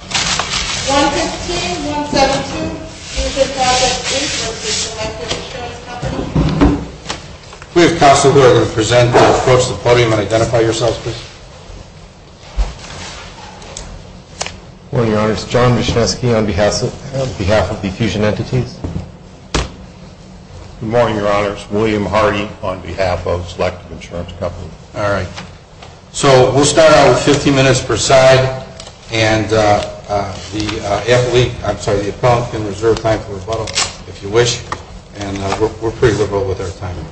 Good morning, Your Honors. John Michniewski on behalf of the Fusion Entities. Good morning, Your Honors. William Hardy on behalf of Selective Insurance Company. So we'll start out with 15 minutes per side, and the appellant can reserve time for rebuttal if you wish. And we're pretty liberal with our timing.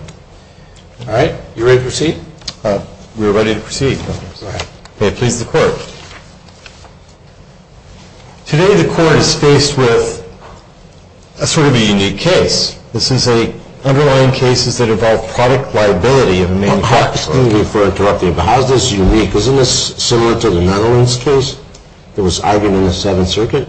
All right, you ready to proceed? We're ready to proceed. Okay, please the court. Today the court is faced with a sort of a unique case. This is an underlying case that involved product liability of a manufacturer. Excuse me for interrupting, but how is this unique? Isn't this similar to the Netherlands case that was argued in the Seventh Circuit?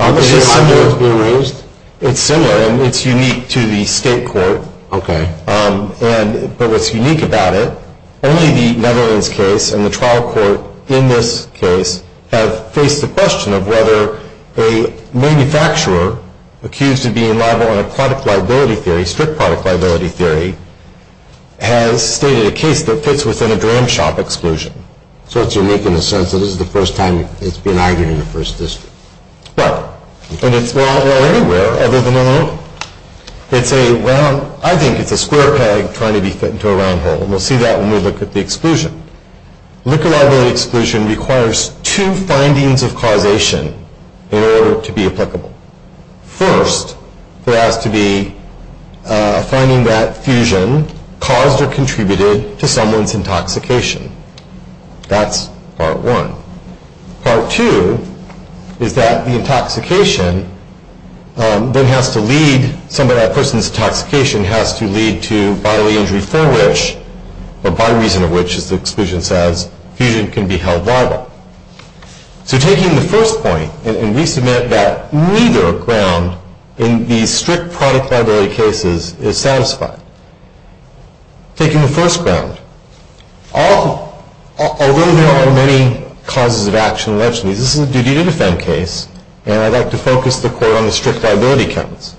Is it similar? It's similar, and it's unique to the state court. Okay. But what's unique about it, only the Netherlands case and the trial court in this case have faced the question of whether a manufacturer accused of being liable on a product liability theory, strict product liability theory, has stated a case that fits within a dram shop exclusion. So it's unique in the sense that this is the first time it's been argued in the First District. Well, and it's anywhere other than in the Netherlands. It's a round, I think it's a square peg trying to be fit into a round hole, and we'll see that when we look at the exclusion. Liquor liability exclusion requires two findings of causation in order to be applicable. First, there has to be a finding that fusion caused or contributed to someone's intoxication. That's part one. Part two is that the intoxication then has to lead, some of that person's intoxication has to lead to bodily injury for which, or by reason of which, as the exclusion says, fusion can be held liable. So taking the first point, and we submit that neither ground in these strict product liability cases is satisfied. Taking the first ground, although there are many causes of action and legitimacy, this is a duty to defend case, and I'd like to focus the court on the strict liability counts.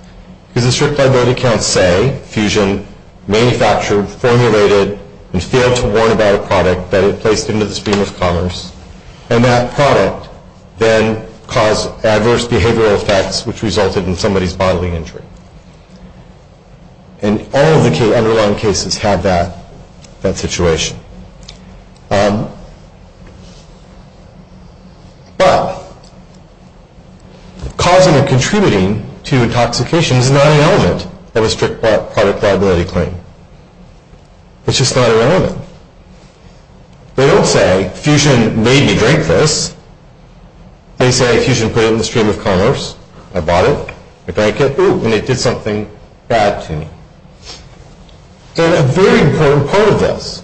Because the strict liability counts say fusion manufactured, formulated, and failed to warn about a product that it placed into the stream of commerce, and that product then caused adverse behavioral effects which resulted in somebody's bodily injury. And all of the underlying cases have that situation. But causing or contributing to intoxication is not an element of a strict product liability claim. It's just not an element. They don't say fusion made me drink this. They say fusion put it in the stream of commerce. I bought it, I drank it, and it did something bad to me. And a very important part of this,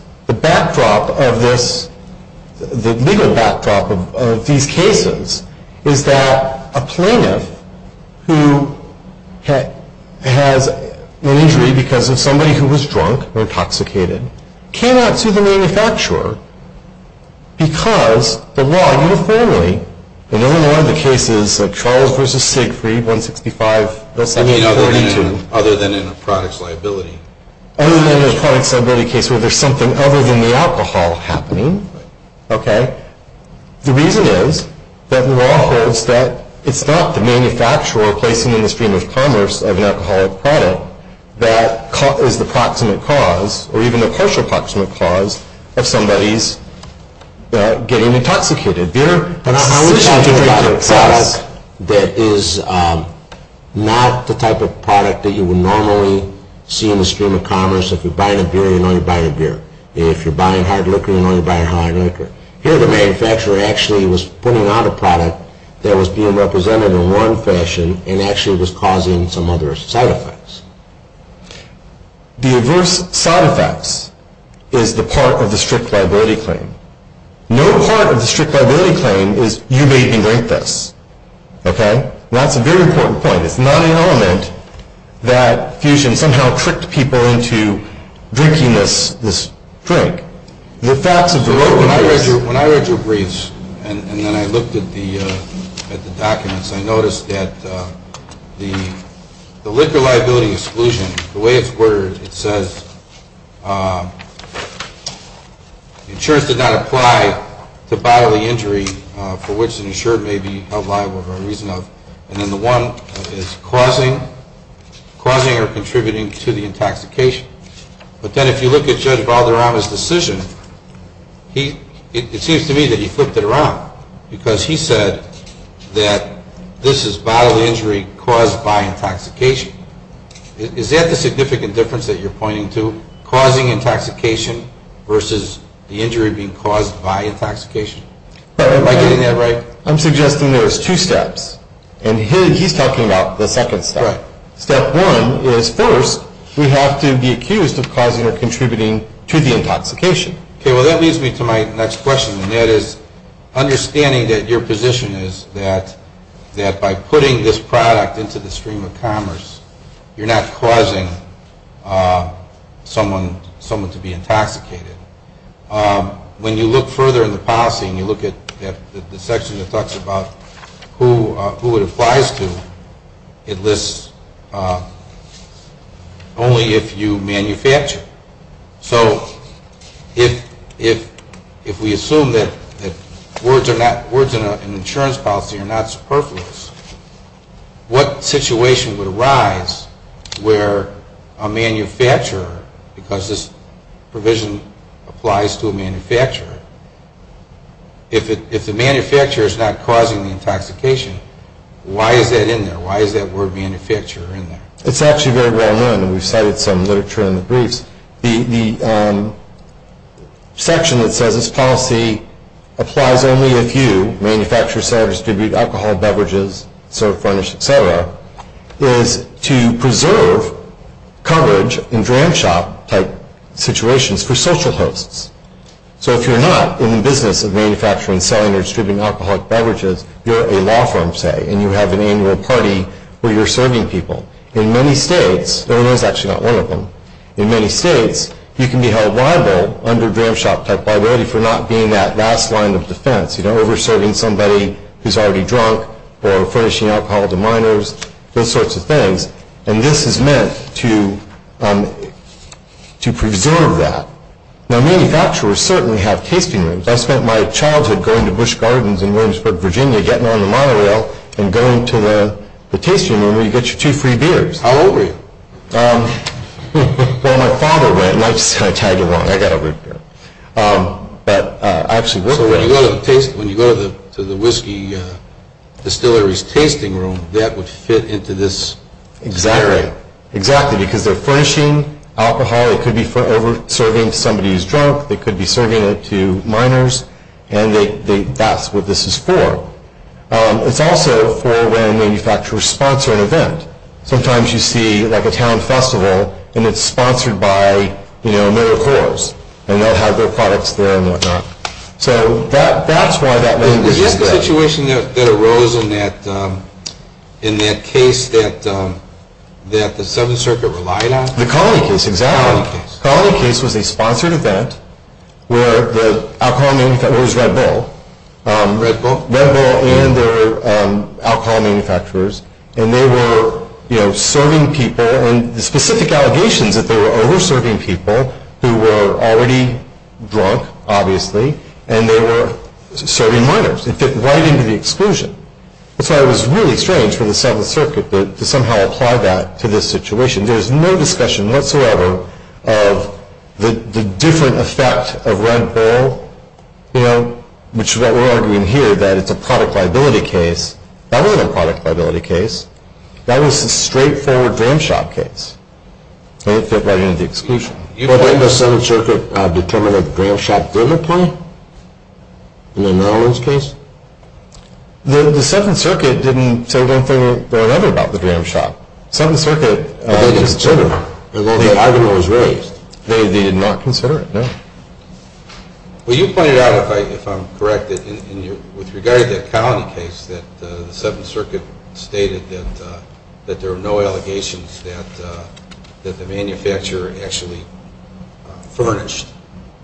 the legal backdrop of these cases, is that a plaintiff who has an injury because of somebody who was drunk or intoxicated cannot sue the manufacturer because the law uniformly, in all of the cases, like Charles v. Siegfried, 165, 1742. I mean, other than in a product's liability. Other than in a product's liability case where there's something other than the alcohol happening. Okay. The reason is that the law holds that it's not the manufacturer placing in the stream of commerce of an alcoholic product that is the proximate cause, or even the partial proximate cause, of somebody's getting intoxicated. But I would tell you about a product that is not the type of product that you would normally see in the stream of commerce. If you're buying a beer, you know you're buying a beer. If you're buying hard liquor, you know you're buying hard liquor. Here the manufacturer actually was putting out a product that was being represented in one fashion and actually was causing some other side effects. The adverse side effects is the part of the strict liability claim. No part of the strict liability claim is, you made me drink this. Okay. That's a very important point. It's not an element that fusion somehow tricked people into drinking this drink. The facts of the law... When I read your briefs and then I looked at the documents, I noticed that the liquor liability exclusion, the way it's worded, it says insurance did not apply to bodily injury for which an insured may be held liable for a reason of, and then the one is causing or contributing to the intoxication. But then if you look at Judge Valderrama's decision, it seems to me that he flipped it around because he said that this is bodily injury caused by intoxication. Is that the significant difference that you're pointing to, causing intoxication versus the injury being caused by intoxication? Am I getting that right? I'm suggesting there's two steps, and he's talking about the second step. Right. Step one is first we have to be accused of causing or contributing to the intoxication. Okay, well that leads me to my next question, and that is understanding that your position is that by putting this product into the stream of commerce, you're not causing someone to be intoxicated. When you look further in the policy and you look at the section that talks about who it applies to, it lists only if you manufacture. So if we assume that words in an insurance policy are not superfluous, what situation would arise where a manufacturer, because this provision applies to a manufacturer, if the manufacturer is not causing the intoxication, why is that in there? Why is that word manufacturer in there? It's actually very well known. We've cited some literature in the briefs. The section that says this policy applies only if you manufacture, sell, distribute alcoholic beverages, serve, furnish, et cetera, is to preserve coverage in dram shop type situations for social hosts. So if you're not in the business of manufacturing, selling, or distributing alcoholic beverages, you're a law firm, say, and you have an annual party where you're serving people. In many states, and there's actually not one of them, in many states you can be held liable under dram shop type liability for not being that last line of defense. You know, over-serving somebody who's already drunk or furnishing alcohol to minors, those sorts of things, and this is meant to preserve that. Now, manufacturers certainly have tasting rooms. I spent my childhood going to Busch Gardens in Williamsburg, Virginia, getting on the monorail and going to the tasting room where you get your two free beers. How old were you? Well, my father went, and I just kind of tagged along. I got a root beer. So when you go to the whiskey distillery's tasting room, that would fit into this? Exactly. Exactly, because they're furnishing alcohol. It could be for over-serving somebody who's drunk. They could be serving it to minors, and that's what this is for. It's also for when manufacturers sponsor an event. Sometimes you see, like, a town festival, and it's sponsored by, you know, AmeriCorps, and they'll have their products there and whatnot. So that's why that was intended. Is this the situation that arose in that case that the Seventh Circuit relied on? The colony case, exactly. The colony case. The colony case was a sponsored event where the alcohol manufacturers, it was Red Bull. Red Bull? Red Bull and their alcohol manufacturers, and they were, you know, serving people, and the specific allegations that they were over-serving people who were already drunk, obviously, and they were serving minors. It fit right into the exclusion. That's why it was really strange for the Seventh Circuit to somehow apply that to this situation. There's no discussion whatsoever of the different effect of Red Bull, you know, which is what we're arguing here, that it's a product liability case. That wasn't a product liability case. That was a straightforward dram shop case, and it fit right into the exclusion. But didn't the Seventh Circuit determine that the dram shop didn't apply in the Nolens case? The Seventh Circuit didn't say one thing or another about the dram shop. The Seventh Circuit just didn't. They didn't consider it. The argument was raised. They did not consider it, no. Well, you pointed out, if I'm correct, that with regard to that colony case, that the Seventh Circuit stated that there were no allegations that the manufacturer actually furnished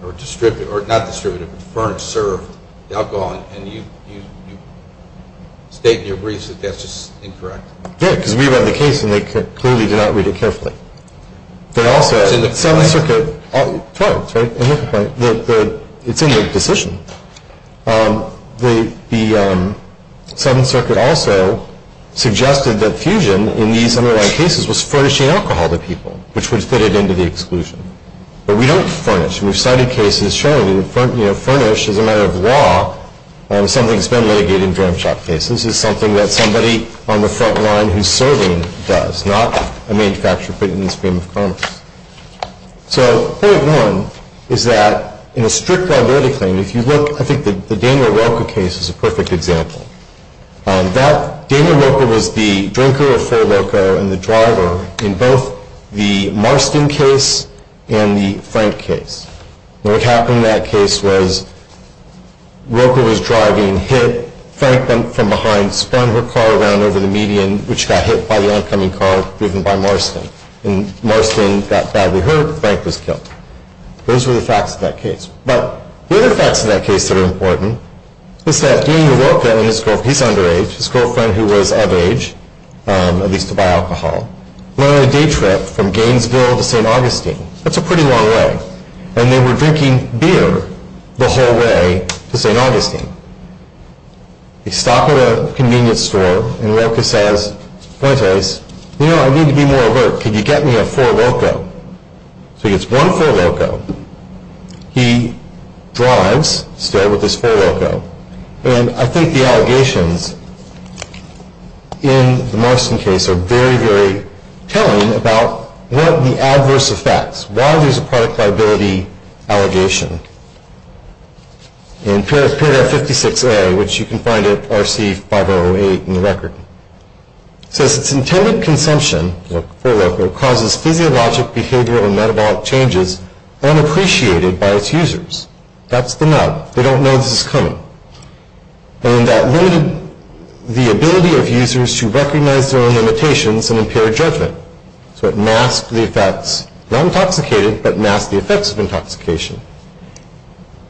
or distributed, or not distributed, but furnished, served, the alcohol, and you state in your briefs that that's just incorrect. Yeah, because we read the case, and they clearly did not read it carefully. They also, the Seventh Circuit, 12th, right? It's in their position. The Seventh Circuit also suggested that fusion, in these underlying cases, was furnishing alcohol to people, which would fit it into the exclusion. But we don't furnish. We've cited cases showing, you know, furnish is a matter of law. Something's been litigated in dram shop cases. This is something that somebody on the front line who's serving does, not a manufacturer put in the stream of commerce. So point one is that in a strict liability claim, if you look, I think the Daniel Rocco case is a perfect example. Daniel Rocco was the drinker of full Rocco and the driver in both the Marston case and the Frank case. And what happened in that case was Rocco was driving, hit, Frank went from behind, spun her car around over the median, which got hit by the oncoming car driven by Marston. And Marston got badly hurt. Frank was killed. Those were the facts of that case. But the other facts in that case that are important is that Daniel Rocco and his girlfriend, he's underage, his girlfriend who was of age, at least to buy alcohol, went on a day trip from Gainesville to St. Augustine. That's a pretty long way. And they were drinking beer the whole way to St. Augustine. They stop at a convenience store, and Rocco says, point is, you know, I need to be more overt. Could you get me a full Rocco? So he gets one full Rocco. He drives still with his full Rocco. And I think the allegations in the Marston case are very, very telling about what the adverse effects, why there's a product liability allegation. And Pyrrha 56A, which you can find at RC5008 in the record, says its intended consumption, full Rocco, causes physiologic, behavioral, and metabolic changes unappreciated by its users. That's the nub. They don't know this is coming. And that limited the ability of users to recognize their own limitations and impair judgment. So it masked the effects, not intoxicated, but masked the effects of intoxication.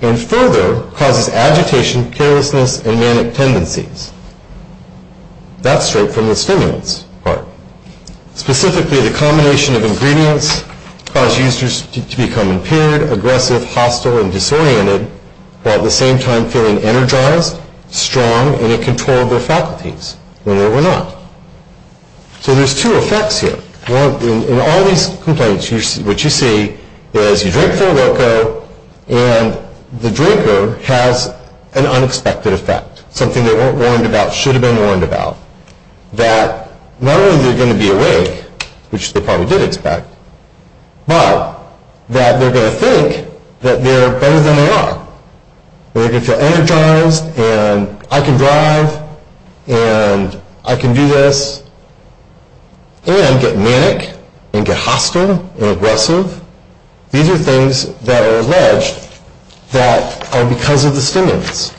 And further, causes agitation, carelessness, and manic tendencies. That's straight from the stimulants part. Specifically, the combination of ingredients caused users to become impaired, aggressive, hostile, and disoriented, while at the same time feeling energized, strong, and in control of their faculties, when they were not. So there's two effects here. In all these complaints, what you see is you drink full Rocco, and the drinker has an unexpected effect. Something they weren't warned about, should have been warned about. That not only are they going to be awake, which they probably did expect, but that they're going to think that they're better than they are. They're going to feel energized, and I can drive, and I can do this, and get manic, and get hostile, and aggressive. These are things that are alleged that are because of the stimulants.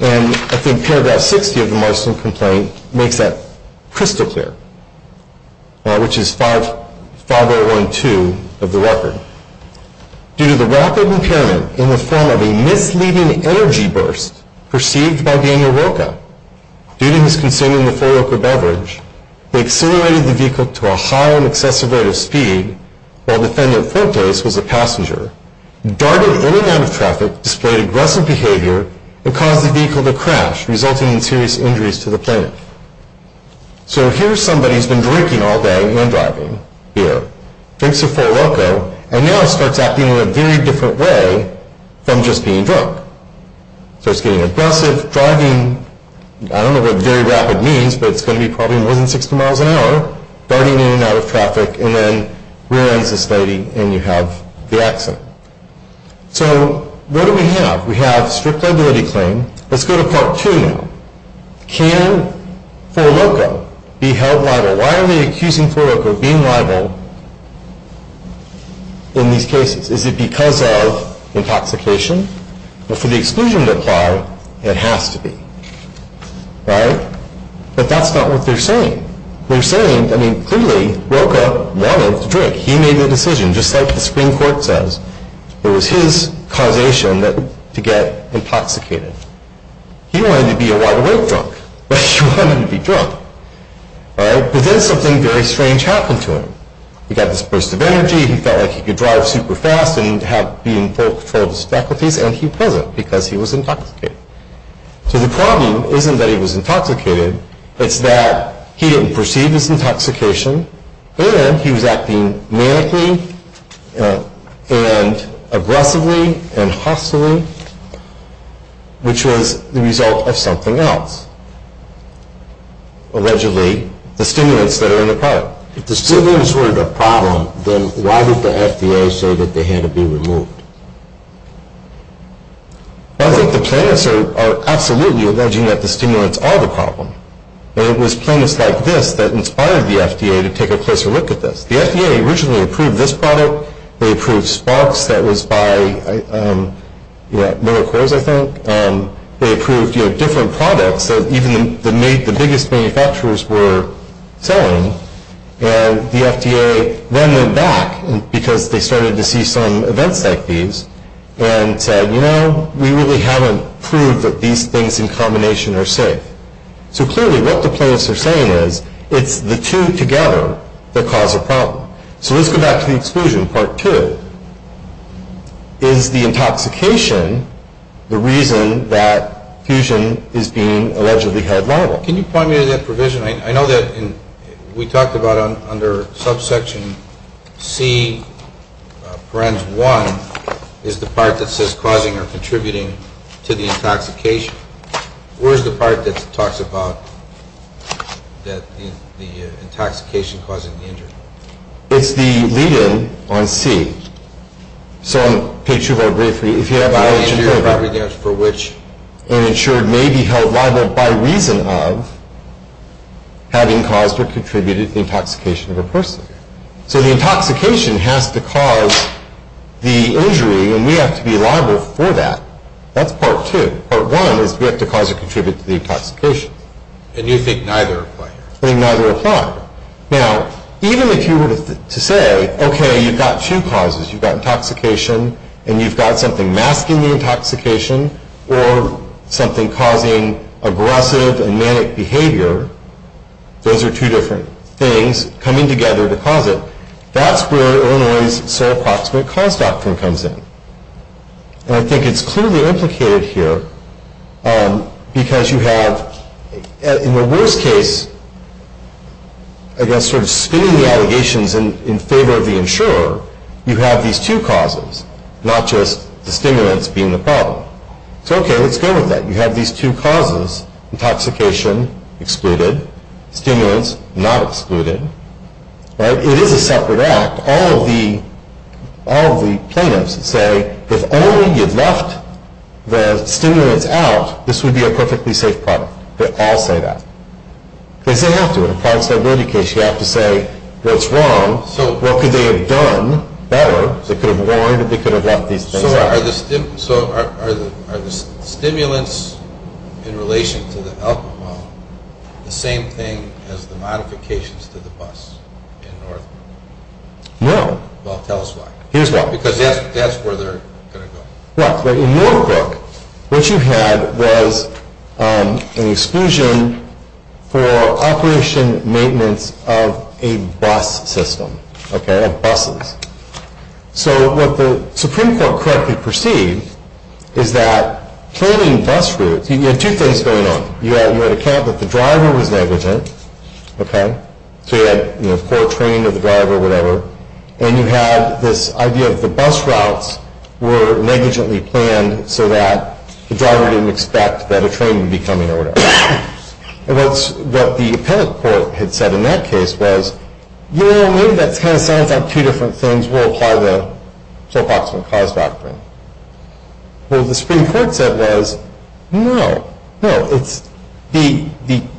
And I think paragraph 60 of the Marston complaint makes that crystal clear, which is 5012 of the record. Due to the rapid impairment in the form of a misleading energy burst perceived by Daniel Rocca, due to his consuming the full Rocco beverage, they accelerated the vehicle to a high and excessive rate of speed, while defendant Fortes was a passenger, darted in and out of traffic, displayed aggressive behavior, and caused the vehicle to crash, resulting in serious injuries to the plaintiff. So here's somebody who's been drinking all day, and driving, beer, drinks the full Rocco, and now starts acting in a very different way from just being drunk. Starts getting aggressive, driving, I don't know what very rapid means, but it's going to be probably more than 60 miles an hour, darting in and out of traffic, and then realizes this lady, and you have the accident. So what do we have? We have strict liability claim. Let's go to part two now. Can full Rocco be held liable? So why are they accusing full Rocco of being liable in these cases? Is it because of intoxication? Well, for the exclusion to apply, it has to be. Right? But that's not what they're saying. They're saying, I mean, clearly, Rocca wanted to drink. He made the decision, just like the Supreme Court says. It was his causation to get intoxicated. He wanted to be a wide-awake drunk, but he wanted to be drunk. Right? But then something very strange happened to him. He got this burst of energy. He felt like he could drive super fast and be in full control of his faculties, and he wasn't because he was intoxicated. So the problem isn't that he was intoxicated. It's that he didn't perceive his intoxication, or he was acting manically and aggressively and hostily, which was the result of something else. Allegedly, the stimulants that are in the product. If the stimulants were the problem, then why did the FDA say that they had to be removed? I think the plaintiffs are absolutely alleging that the stimulants are the problem. And it was plaintiffs like this that inspired the FDA to take a closer look at this. The FDA originally approved this product. They approved Sparks that was by Miller Coors, I think. And they approved different products that even the biggest manufacturers were selling. And the FDA then went back, because they started to see some events like these, and said, you know, we really haven't proved that these things in combination are safe. So clearly what the plaintiffs are saying is it's the two together that cause a problem. So let's go back to the exclusion, part two. Is the intoxication the reason that fusion is being allegedly held liable? Can you point me to that provision? I know that we talked about under subsection C, parens one, is the part that says causing or contributing to the intoxication. Where is the part that talks about the intoxication causing the injury? It's the lead-in on C. So on page 2 of our brief, if you have an alleged injury, and insured may be held liable by reason of having caused or contributed to the intoxication of a person. So the intoxication has to cause the injury, and we have to be liable for that. That's part two. Part one is we have to cause or contribute to the intoxication. And you think neither apply? I think neither apply. Now, even if you were to say, okay, you've got two causes. You've got intoxication, and you've got something masking the intoxication, or something causing aggressive and manic behavior. Those are two different things coming together to cause it. That's where Illinois' sole approximate cause doctrine comes in. And I think it's clearly implicated here because you have, in the worst case, I guess sort of spinning the allegations in favor of the insurer, you have these two causes, not just the stimulants being the problem. So, okay, let's go with that. You have these two causes, intoxication excluded, stimulants not excluded. It is a separate act. All of the plaintiffs say, if only you'd left the stimulants out, this would be a perfectly safe product. They all say that. Because they have to. In a product stability case, you have to say what's wrong. What could they have done better? They could have warned that they could have left these things out. So are the stimulants in relation to the alcohol the same thing as the modifications to the bus in Northbrook? No. Well, tell us why. Here's why. Because that's where they're going to go. What? Well, in Northbrook, what you had was an exclusion for operation maintenance of a bus system, okay, of buses. So what the Supreme Court correctly perceived is that planning bus routes, you had two things going on. You had a count that the driver was negligent, okay, so you had poor training of the driver or whatever, and you had this idea of the bus routes were negligently planned so that the driver didn't expect that a train would be coming or whatever. And what the appellate court had said in that case was, you know, maybe that kind of sounds like two different things. We'll apply the Soapbox and Cars doctrine. Well, what the Supreme Court said was, no, no. The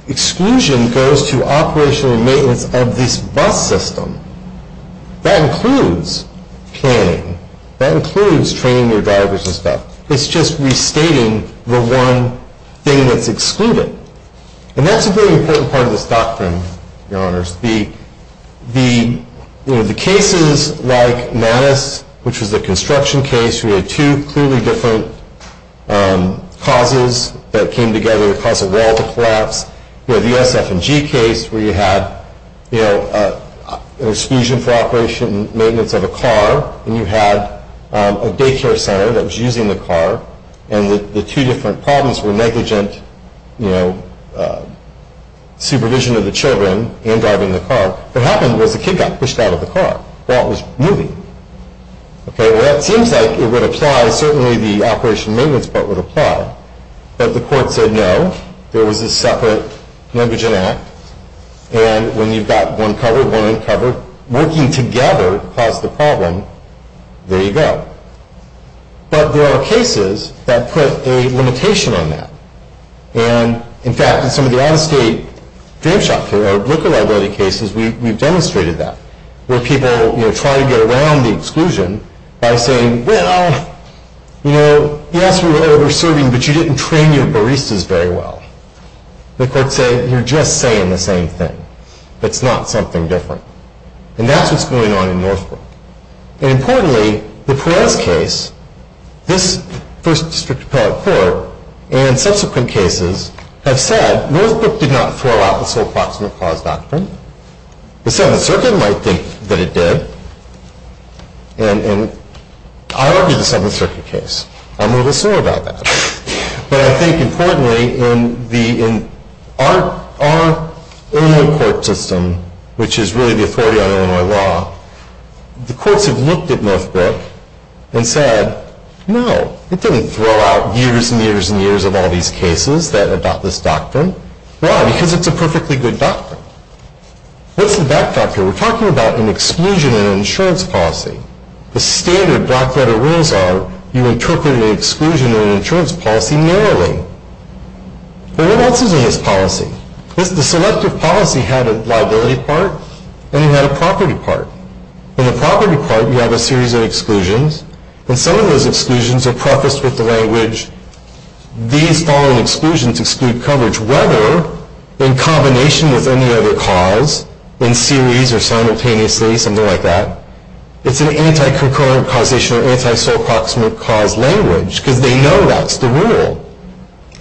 exclusion goes to operation and maintenance of this bus system. That includes planning. That includes training your drivers and stuff. It's just restating the one thing that's excluded. And that's a very important part of this doctrine, Your Honors. The cases like Mattis, which was a construction case, which we had two clearly different causes that came together to cause a wall to collapse. We had the SF&G case where you had, you know, an exclusion for operation and maintenance of a car, and you had a daycare center that was using the car, and the two different problems were negligent, you know, supervision of the children and driving the car. What happened was the kid got pushed out of the car while it was moving. Okay, well, it seems like it would apply. Certainly, the operation and maintenance part would apply. But the court said no. There was a separate negligent act. And when you've got one covered, one uncovered, working together caused the problem. There you go. But there are cases that put a limitation on that. And, in fact, in some of the out-of-state drip shop cases, or liquor liability cases, we've demonstrated that, where people, you know, try to get around the exclusion by saying, well, you know, yes, we were over-serving, but you didn't train your baristas very well. The court said, you're just saying the same thing. It's not something different. And that's what's going on in Northbrook. And, importantly, the Perez case, this first district appellate court, and subsequent cases have said Northbrook did not throw out the sole proximate cause doctrine. The Seventh Circuit might think that it did. And I argue the Seventh Circuit case. I'm a little sore about that. But I think, importantly, in our Illinois court system, which is really the authority on Illinois law, the courts have looked at Northbrook and said, no, it didn't throw out years and years and years of all these cases that adopt this doctrine. Why? Because it's a perfectly good doctrine. What's the back factor? We're talking about an exclusion in an insurance policy. The standard black-letter rules are you interpret an exclusion in an insurance policy narrowly. But what else is in this policy? The selective policy had a liability part, and it had a property part. In the property part, you have a series of exclusions, and some of those exclusions are prefaced with the language, these following exclusions exclude coverage, whether in combination with any other cause, in series or simultaneously, something like that. It's an anti-concurrent causation or anti-sole proximate cause language, because they know that's the rule.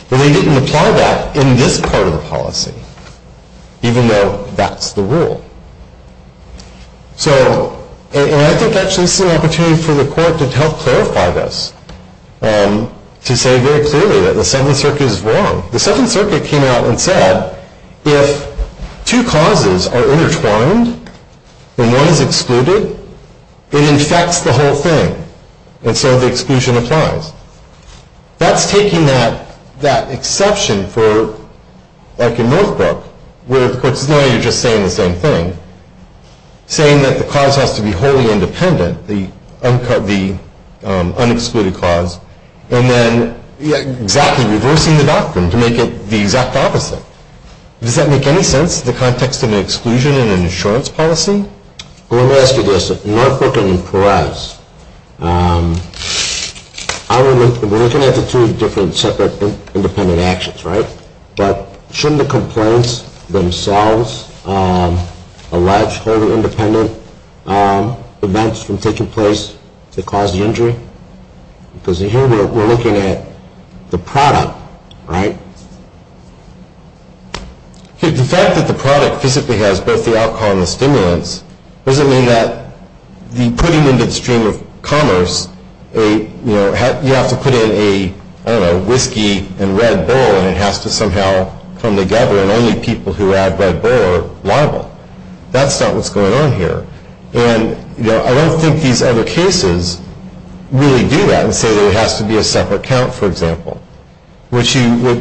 But they didn't apply that in this part of the policy, even though that's the rule. So, and I think actually this is an opportunity for the court to help clarify this, to say very clearly that the Seventh Circuit is wrong. The Seventh Circuit came out and said, if two causes are intertwined and one is excluded, it infects the whole thing, and so the exclusion applies. That's taking that exception for, like in Northbrook, where the court is knowing you're just saying the same thing, saying that the cause has to be wholly independent, the unexcluded cause, and then exactly reversing the doctrine to make it the exact opposite. Does that make any sense in the context of an exclusion in an insurance policy? Let me ask you this. In Northbrook and in Perez, we're looking at the two different separate independent actions, right? But shouldn't the complaints themselves allege wholly independent events from taking place to cause the injury? Because here we're looking at the product, right? The fact that the product physically has both the alcohol and the stimulants doesn't mean that putting into the stream of commerce, you have to put in a whiskey and red bull and it has to somehow come together, and only people who add red bull are liable. That's not what's going on here. And I don't think these other cases really do that and say that it has to be a separate count, for example. What you're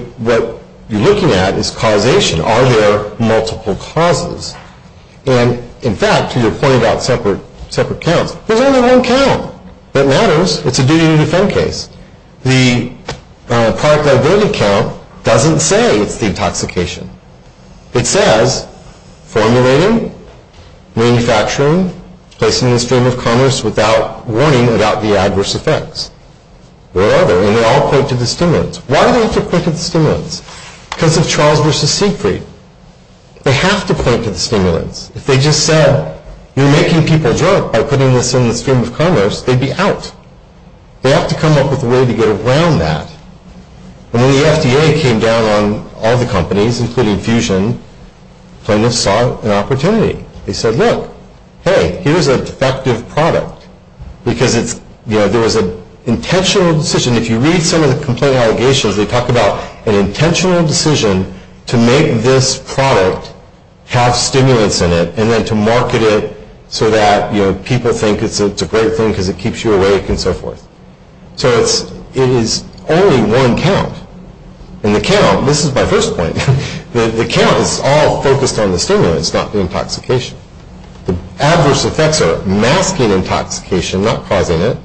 looking at is causation. Are there multiple causes? And, in fact, to your point about separate counts, there's only one count that matters. It's a duty to defend case. The product liability count doesn't say it's the intoxication. It says formulating, manufacturing, placing in the stream of commerce without warning about the adverse effects. Whatever. And they all point to the stimulants. Why do they have to point to the stimulants? Because of Charles v. Siegfried. They have to point to the stimulants. If they just said, you're making people drunk by putting this in the stream of commerce, they'd be out. They have to come up with a way to get around that. And when the FDA came down on all the companies, including Fusion, plaintiffs saw an opportunity. They said, look, hey, here's a defective product. Because there was an intentional decision. If you read some of the complaint allegations, they talk about an intentional decision to make this product have stimulants in it and then to market it so that people think it's a great thing because it keeps you awake and so forth. So it is only one count. And the count, this is my first point, the count is all focused on the stimulants, not the intoxication. The adverse effects are masking intoxication, not causing it,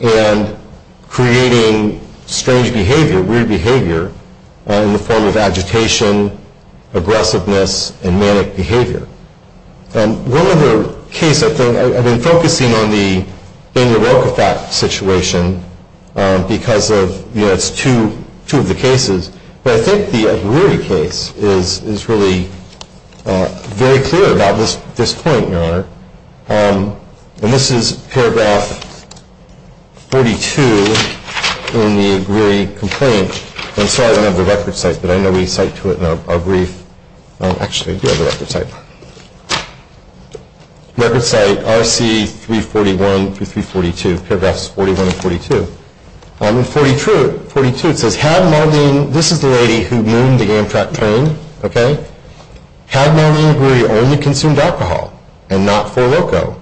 and creating strange behavior, weird behavior in the form of agitation, aggressiveness, and manic behavior. And one other case I think, I've been focusing on the Daniel Rochafak situation because of, you know, it's two of the cases. But I think the Aguirre case is really very clear about this point, Your Honor. And this is paragraph 42 in the Aguirre complaint. I'm sorry I don't have the record site, but I know we cite to it in our brief. Actually, I do have the record site. Record site, RC 341 through 342, paragraphs 41 and 42. In 42, it says, Had Maldine, this is the lady who mooned the Amtrak train, okay? Had Maldine Aguirre only consumed alcohol and not 4-Loco,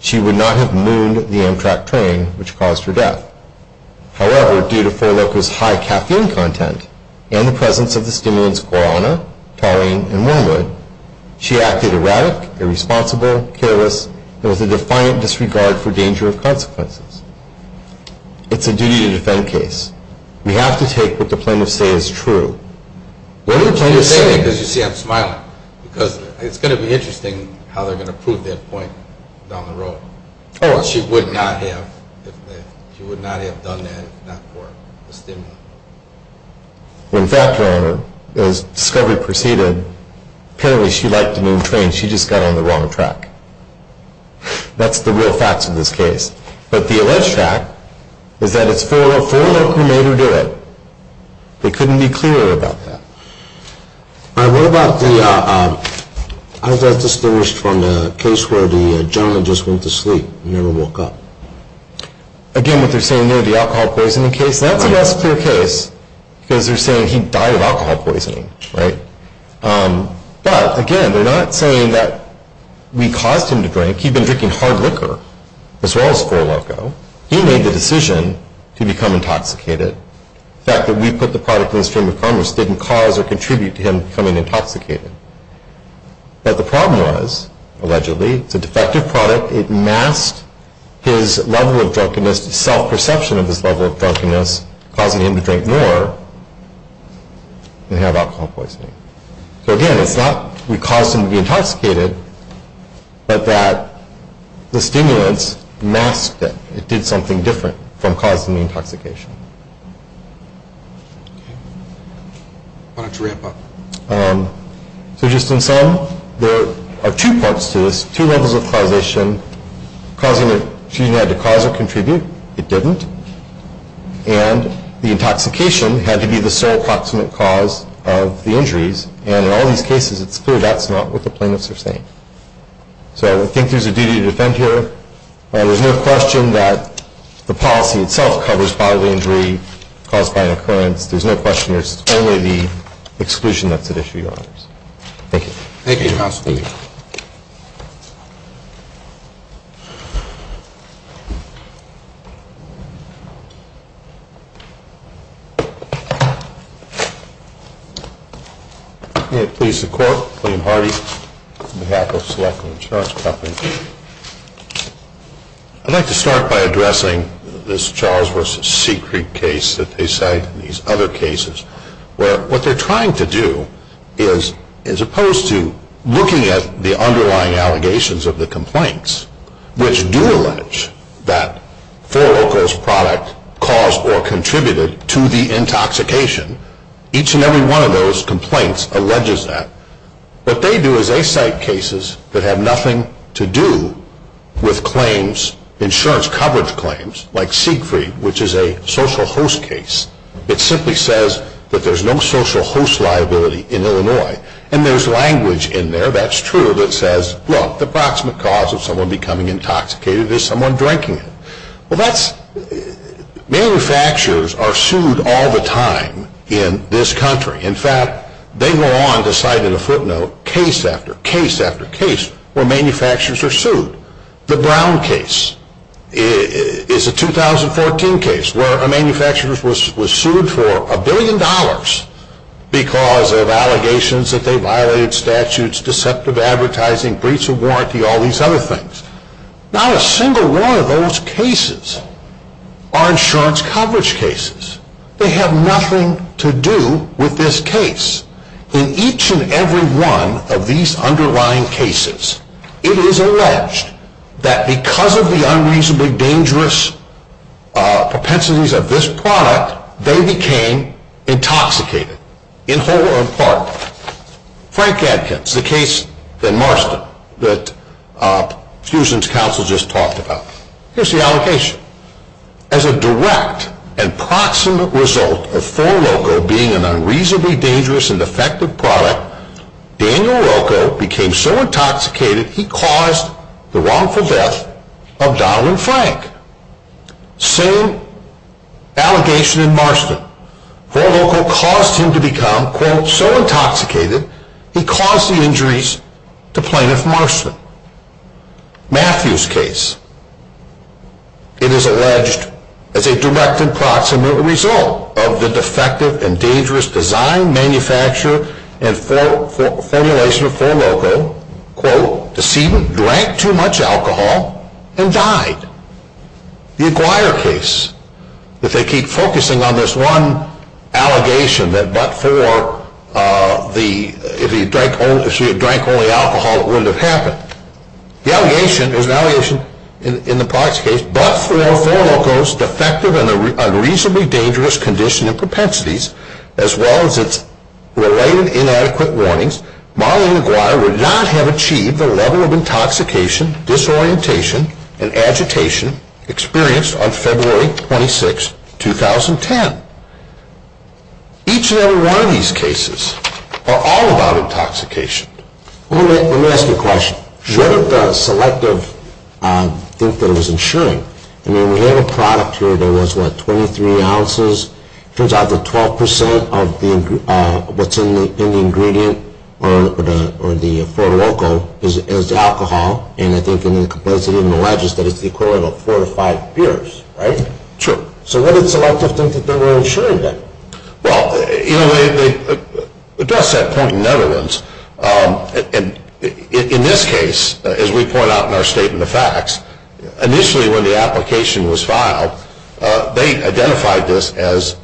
she would not have mooned the Amtrak train which caused her death. However, due to 4-Loco's high caffeine content and the presence of the stimulants Guarana, Taurine, and Wormwood, she acted erratic, irresponsible, careless, and with a defiant disregard for danger of consequences. It's a duty-to-defend case. We have to take what the plaintiffs say is true. What are the plaintiffs saying? You see I'm smiling because it's going to be interesting how they're going to prove that point down the road. She would not have done that if not for the stimulant. When factoring her, as discovery proceeded, apparently she liked the moon train. She just got on the wrong track. That's the real facts of this case. But the alleged fact is that it's 4-Loco who made her do it. They couldn't be clearer about that. All right, what about the, I was just distinguished from the case where the journalist went to sleep and never woke up. Again, what they're saying near the alcohol poisoning case. That's a less clear case because they're saying he died of alcohol poisoning. But again, they're not saying that we caused him to drink. He'd been drinking hard liquor as well as 4-Loco. He made the decision to become intoxicated. The fact that we put the product in the stream of commerce didn't cause or contribute to him becoming intoxicated. But the problem was, allegedly, it's a defective product. It masked his level of drunkenness, self-perception of his level of drunkenness, causing him to drink more and have alcohol poisoning. So again, it's not we caused him to be intoxicated, but that the stimulants masked it. It did something different from causing the intoxication. So just in sum, there are two parts to this, two levels of causation. Causing it, choosing it to cause or contribute, it didn't. And the intoxication had to be the sole approximate cause of the injuries. And in all these cases, it's clear that's not what the plaintiffs are saying. So I think there's a duty to defend here. And there's no question that the policy itself covers bodily injury caused by an occurrence. There's no question it's only the exclusion that's at issue, Your Honors. Thank you. Thank you, Your Honor. Thank you. I'm going to please the Court, William Hardy, on behalf of Select Insurance Company. I'd like to start by addressing this Charles v. Secret case that they cite and these other cases. What they're trying to do is, as opposed to looking at the underlying allegations of the complaints, which do allege that 4Local's product caused or contributed to the intoxication, each and every one of those complaints alleges that. What they do is they cite cases that have nothing to do with claims, insurance coverage claims, like Siegfried, which is a social host case. It simply says that there's no social host liability in Illinois. And there's language in there, that's true, that says, look, the approximate cause of someone becoming intoxicated is someone drinking it. Manufacturers are sued all the time in this country. In fact, they go on to cite in a footnote case after case after case where manufacturers are sued. The Brown case is a 2014 case where a manufacturer was sued for a billion dollars because of allegations that they violated statutes, deceptive advertising, breach of warranty, all these other things. Not a single one of those cases are insurance coverage cases. They have nothing to do with this case. In each and every one of these underlying cases, it is alleged that because of the unreasonably dangerous propensities of this product, they became intoxicated in whole or in part. Frank Adkins, the case in Marston that Fusion's counsel just talked about. Here's the allocation. As a direct and proximate result of 4-Loco being an unreasonably dangerous and defective product, Daniel Rocco became so intoxicated he caused the wrongful death of Donald Frank. Same allegation in Marston. 4-Loco caused him to become, quote, so intoxicated he caused the injuries to plaintiff Marston. Matthew's case. It is alleged as a direct and proximate result of the defective and dangerous design, manufacture, and formulation of 4-Loco, quote, deceived him, drank too much alcohol, and died. The Acquire case. If they keep focusing on this one allegation that but for the, if he drank only alcohol, it wouldn't have happened. The allegation, there's an allegation in the Proxy case, but for 4-Loco's defective and unreasonably dangerous condition and propensities, as well as its related inadequate warnings, Marley and Acquire would not have achieved the level of intoxication, disorientation, and agitation experienced on February 26, 2010. Each and every one of these cases are all about intoxication. Let me ask you a question. Sure. What did the selective think that it was ensuring? I mean, we have a product here that was, what, 23 ounces? Turns out that 12% of what's in the ingredient, or the 4-Loco, is alcohol, and I think in the complexity of the legislation, it's the equivalent of four to five beers, right? Sure. So what did selective think that they were ensuring, then? Well, you know, they addressed that point in other ones. In this case, as we point out in our statement of facts, initially when the application was filed, they identified this as,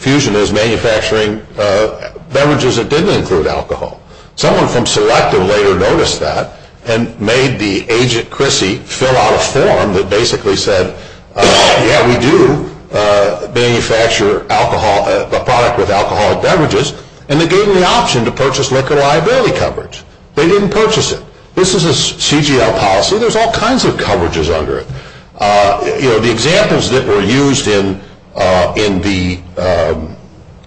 Fusion is manufacturing beverages that didn't include alcohol. Someone from selective later noticed that and made the agent, Chrissy, fill out a form that basically said, yeah, we do manufacture alcohol, a product with alcohol and beverages, and they gave them the option to purchase liquor liability coverage. They didn't purchase it. This is a CGL policy. There's all kinds of coverages under it. You know, the examples that were used in the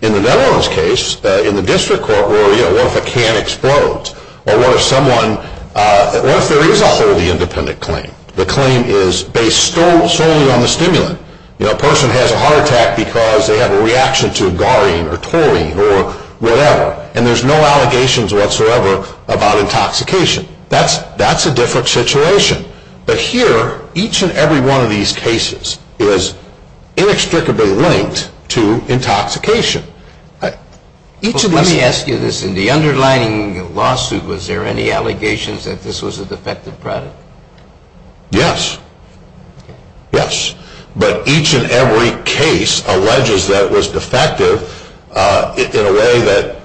Netherlands case, in the district court, where, you know, what if a can explodes? Or what if someone, what if there is a wholly independent claim? The claim is based solely on the stimulant. You know, a person has a heart attack because they have a reaction to Garine or Taurine or whatever, and there's no allegations whatsoever about intoxication. That's a different situation. But here, each and every one of these cases is inextricably linked to intoxication. Let me ask you this. In the underlying lawsuit, was there any allegations that this was a defective product? Yes. Yes. But each and every case alleges that it was defective in a way that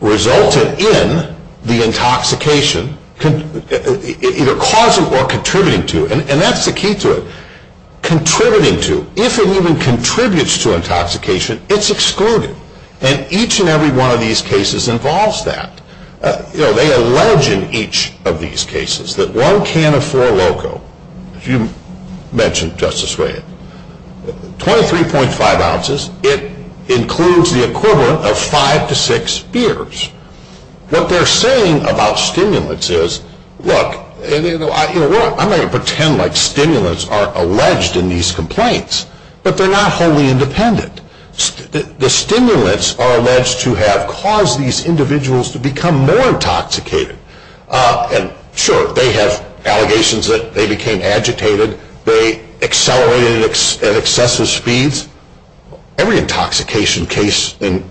resulted in the intoxication, either causing or contributing to it. And that's the key to it. Contributing to. If it even contributes to intoxication, it's excluded. And each and every one of these cases involves that. You know, they allege in each of these cases that one can of Four Loko, as you mentioned, Justice Reagan, 23.5 ounces. It includes the equivalent of five to six beers. What they're saying about stimulants is, look, I'm not going to pretend like stimulants are alleged in these complaints, but they're not wholly independent. The stimulants are alleged to have caused these individuals to become more intoxicated. And, sure, they have allegations that they became agitated. They accelerated at excessive speeds. Every intoxication case, a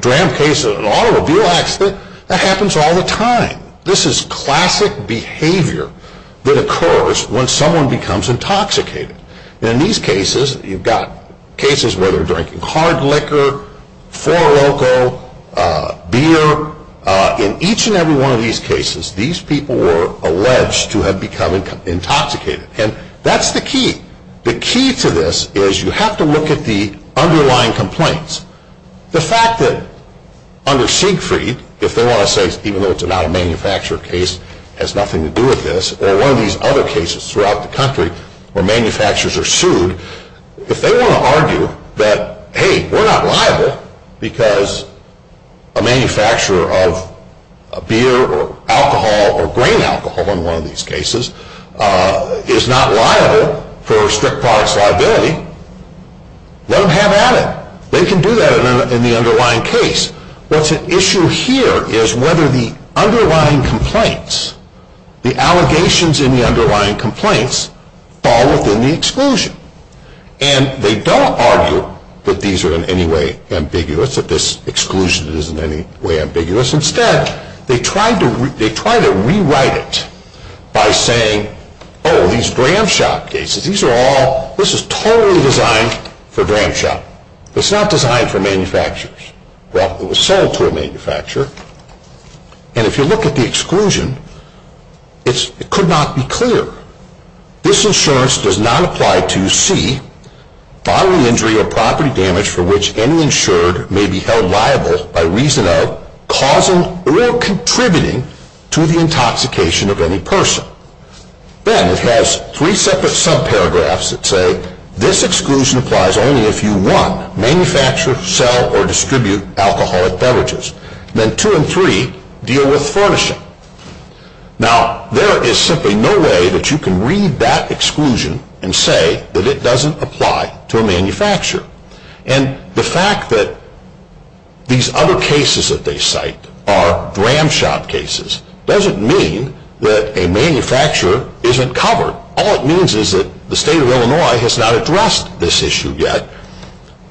dram case, an automobile accident, that happens all the time. This is classic behavior that occurs when someone becomes intoxicated. And in these cases, you've got cases where they're drinking hard liquor, Four Loko, beer. In each and every one of these cases, these people were alleged to have become intoxicated. And that's the key. The key to this is you have to look at the underlying complaints. The fact that under Siegfried, if they want to say, even though it's not a manufacturer case, has nothing to do with this, or one of these other cases throughout the country where manufacturers are sued, if they want to argue that, hey, we're not liable because a manufacturer of beer or alcohol or grain alcohol, in one of these cases, is not liable for strict products liability, let them have at it. They can do that in the underlying case. What's at issue here is whether the underlying complaints, the allegations in the underlying complaints fall within the exclusion. And they don't argue that these are in any way ambiguous, that this exclusion isn't in any way ambiguous. Instead, they try to rewrite it by saying, oh, these dram shop cases, these are all, this is totally designed for dram shop. It's not designed for manufacturers. Well, it was sold to a manufacturer. And if you look at the exclusion, it could not be clear. This insurance does not apply to C, bodily injury or property damage for which any insured may be held liable by reason of causing or contributing to the intoxication of any person. Then it has three separate subparagraphs that say, this exclusion applies only if you, one, manufacture, sell or distribute alcoholic beverages. Then two and three deal with furnishing. Now, there is simply no way that you can read that exclusion and say that it doesn't apply to a manufacturer. And the fact that these other cases that they cite are dram shop cases doesn't mean that a manufacturer isn't covered. All it means is that the state of Illinois has not addressed this issue yet.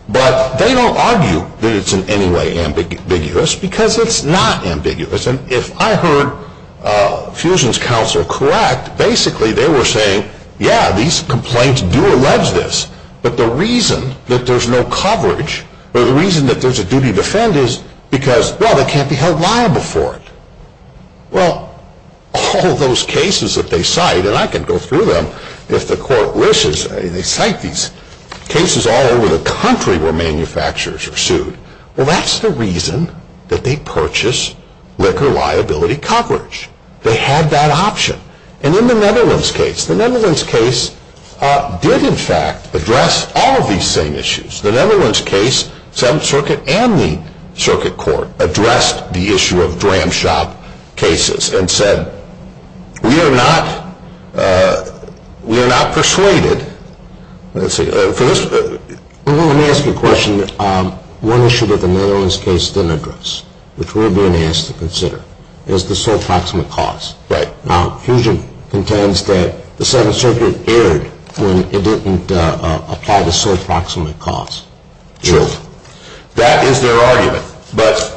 But they don't argue that it's in any way ambiguous because it's not ambiguous. And if I heard Fusion's counsel correct, basically they were saying, yeah, these complaints do allege this. But the reason that there's no coverage or the reason that there's a duty to defend is because, well, they can't be held liable for it. Well, all those cases that they cite, and I can go through them if the court wishes, they cite these cases all over the country where manufacturers are sued. Well, that's the reason that they purchase liquor liability coverage. They had that option. And in the Netherlands case, the Netherlands case did, in fact, address all of these same issues. The Netherlands case, Seventh Circuit and the circuit court addressed the issue of dram shop cases and said we are not persuaded. Let me ask you a question. One issue that the Netherlands case didn't address, which we're being asked to consider, is the sole proximate cause. Right. Now, Fusion contends that the Seventh Circuit erred when it didn't apply the sole proximate cause. Sure. That is their argument. But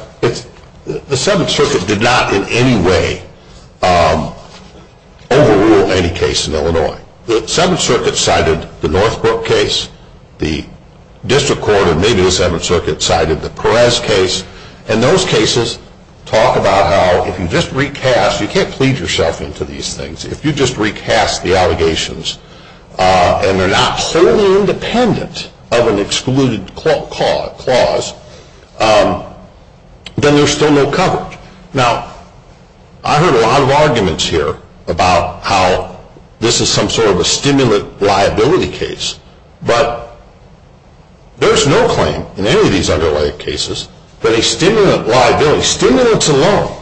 the Seventh Circuit did not in any way overrule any case in Illinois. The Seventh Circuit cited the Northbrook case, the district court, and maybe the Seventh Circuit cited the Perez case. And those cases talk about how if you just recast, you can't plead yourself into these things, if you just recast the allegations and they're not wholly independent of an excluded clause, then there's still no coverage. Now, I heard a lot of arguments here about how this is some sort of a stimulant liability case. But there's no claim in any of these underlying cases that a stimulant liability, stimulants alone,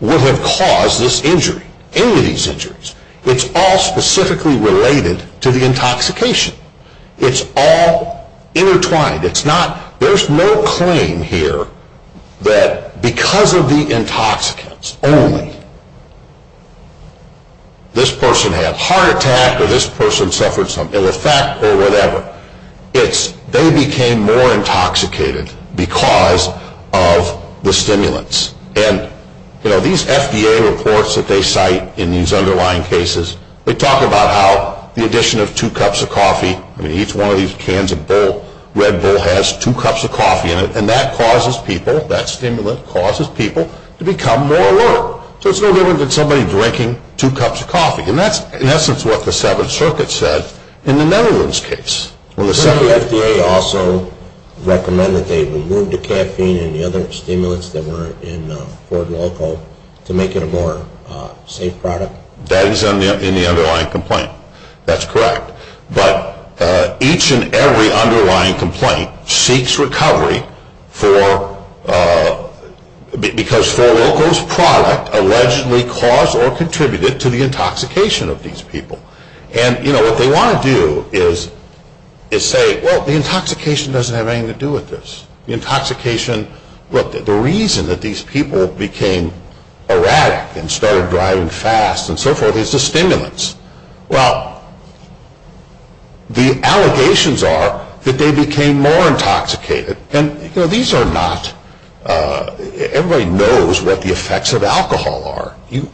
would have caused this injury, any of these injuries. It's all specifically related to the intoxication. It's all intertwined. There's no claim here that because of the intoxicants only, this person had heart attack or this person suffered some ill effect or whatever. It's they became more intoxicated because of the stimulants. And, you know, these FDA reports that they cite in these underlying cases, they talk about how the addition of two cups of coffee, I mean, each one of these cans of Red Bull has two cups of coffee in it, and that causes people, that stimulant causes people to become more alert. So it's no different than somebody drinking two cups of coffee. And that's, in essence, what the Seventh Circuit said in the Netherlands case. Didn't the FDA also recommend that they remove the caffeine and the other stimulants that were in Ford Loco to make it a more safe product? That is in the underlying complaint. That's correct. But each and every underlying complaint seeks recovery because Ford Loco's product allegedly caused or contributed to the intoxication of these people. And, you know, what they want to do is say, well, the intoxication doesn't have anything to do with this. The intoxication, look, the reason that these people became erratic and started driving fast and so forth is the stimulants. Well, the allegations are that they became more intoxicated. And, you know, these are not, everybody knows what the effects of alcohol are. You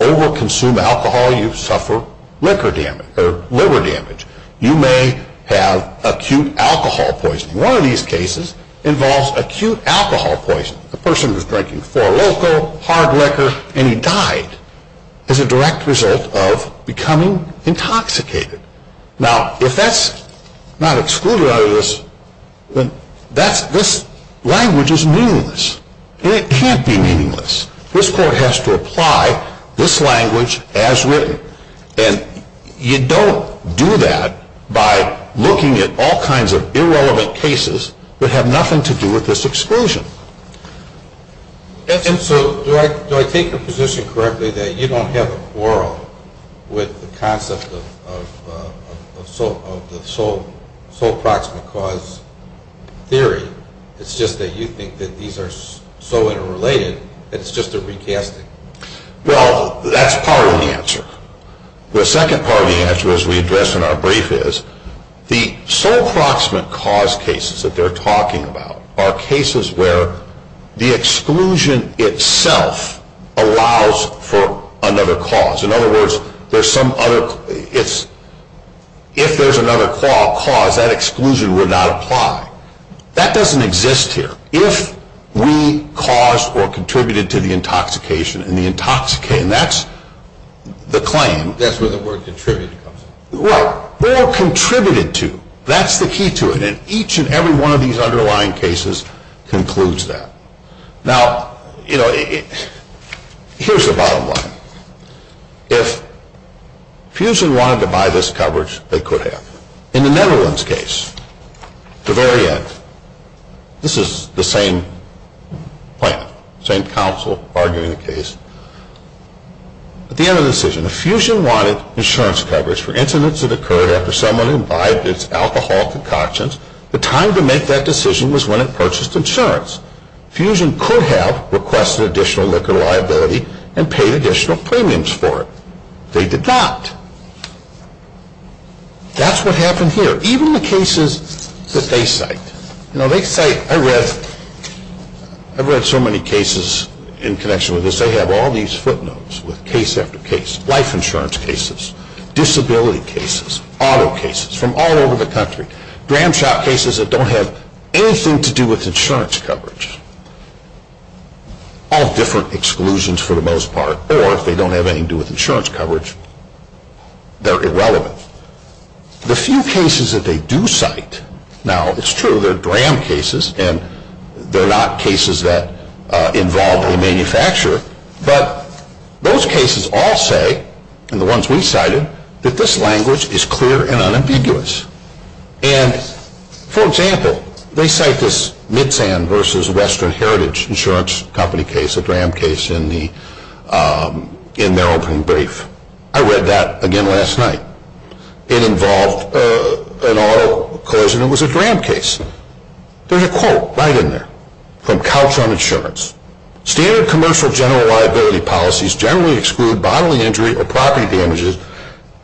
overconsume alcohol, you suffer liver damage. You may have acute alcohol poisoning. One of these cases involves acute alcohol poisoning. The person was drinking Ford Loco, hard liquor, and he died as a direct result of becoming intoxicated. Now, if that's not excluded out of this, then this language is meaningless. And it can't be meaningless. This court has to apply this language as written. And you don't do that by looking at all kinds of irrelevant cases that have nothing to do with this exclusion. And so do I take your position correctly that you don't have a quarrel with the concept of the sole proximate cause theory? It's just that you think that these are so interrelated that it's just a recasting. Well, that's part of the answer. The second part of the answer, as we addressed in our brief, is the sole proximate cause cases that they're talking about are cases where the exclusion itself allows for another cause. In other words, if there's another cause, that exclusion would not apply. That doesn't exist here. If we caused or contributed to the intoxication, and that's the claim. That's where the word contributed comes in. Right, or contributed to. That's the key to it. And each and every one of these underlying cases concludes that. Now, you know, here's the bottom line. If Fusion wanted to buy this coverage, they could have. In the Netherlands case, the very end, this is the same plan, same counsel arguing the case. At the end of the decision, if Fusion wanted insurance coverage for incidents that occurred after someone imbibed its alcohol concoctions, the time to make that decision was when it purchased insurance. Fusion could have requested additional liquor liability and paid additional premiums for it. They did not. That's what happened here. Even the cases that they cite. You know, they cite, I've read so many cases in connection with this. They have all these footnotes with case after case, life insurance cases, disability cases, auto cases from all over the country, dram shop cases that don't have anything to do with insurance coverage. All different exclusions for the most part. Or if they don't have anything to do with insurance coverage, they're irrelevant. The few cases that they do cite, now it's true, they're dram cases and they're not cases that involve a manufacturer, but those cases all say, and the ones we cited, that this language is clear and unambiguous. And, for example, they cite this Midsand versus Western Heritage insurance company case, a dram case in their opening brief. I read that again last night. It involved an auto cause and it was a dram case. There's a quote right in there from Couch on Insurance. Standard commercial general liability policies generally exclude bodily injury or property damages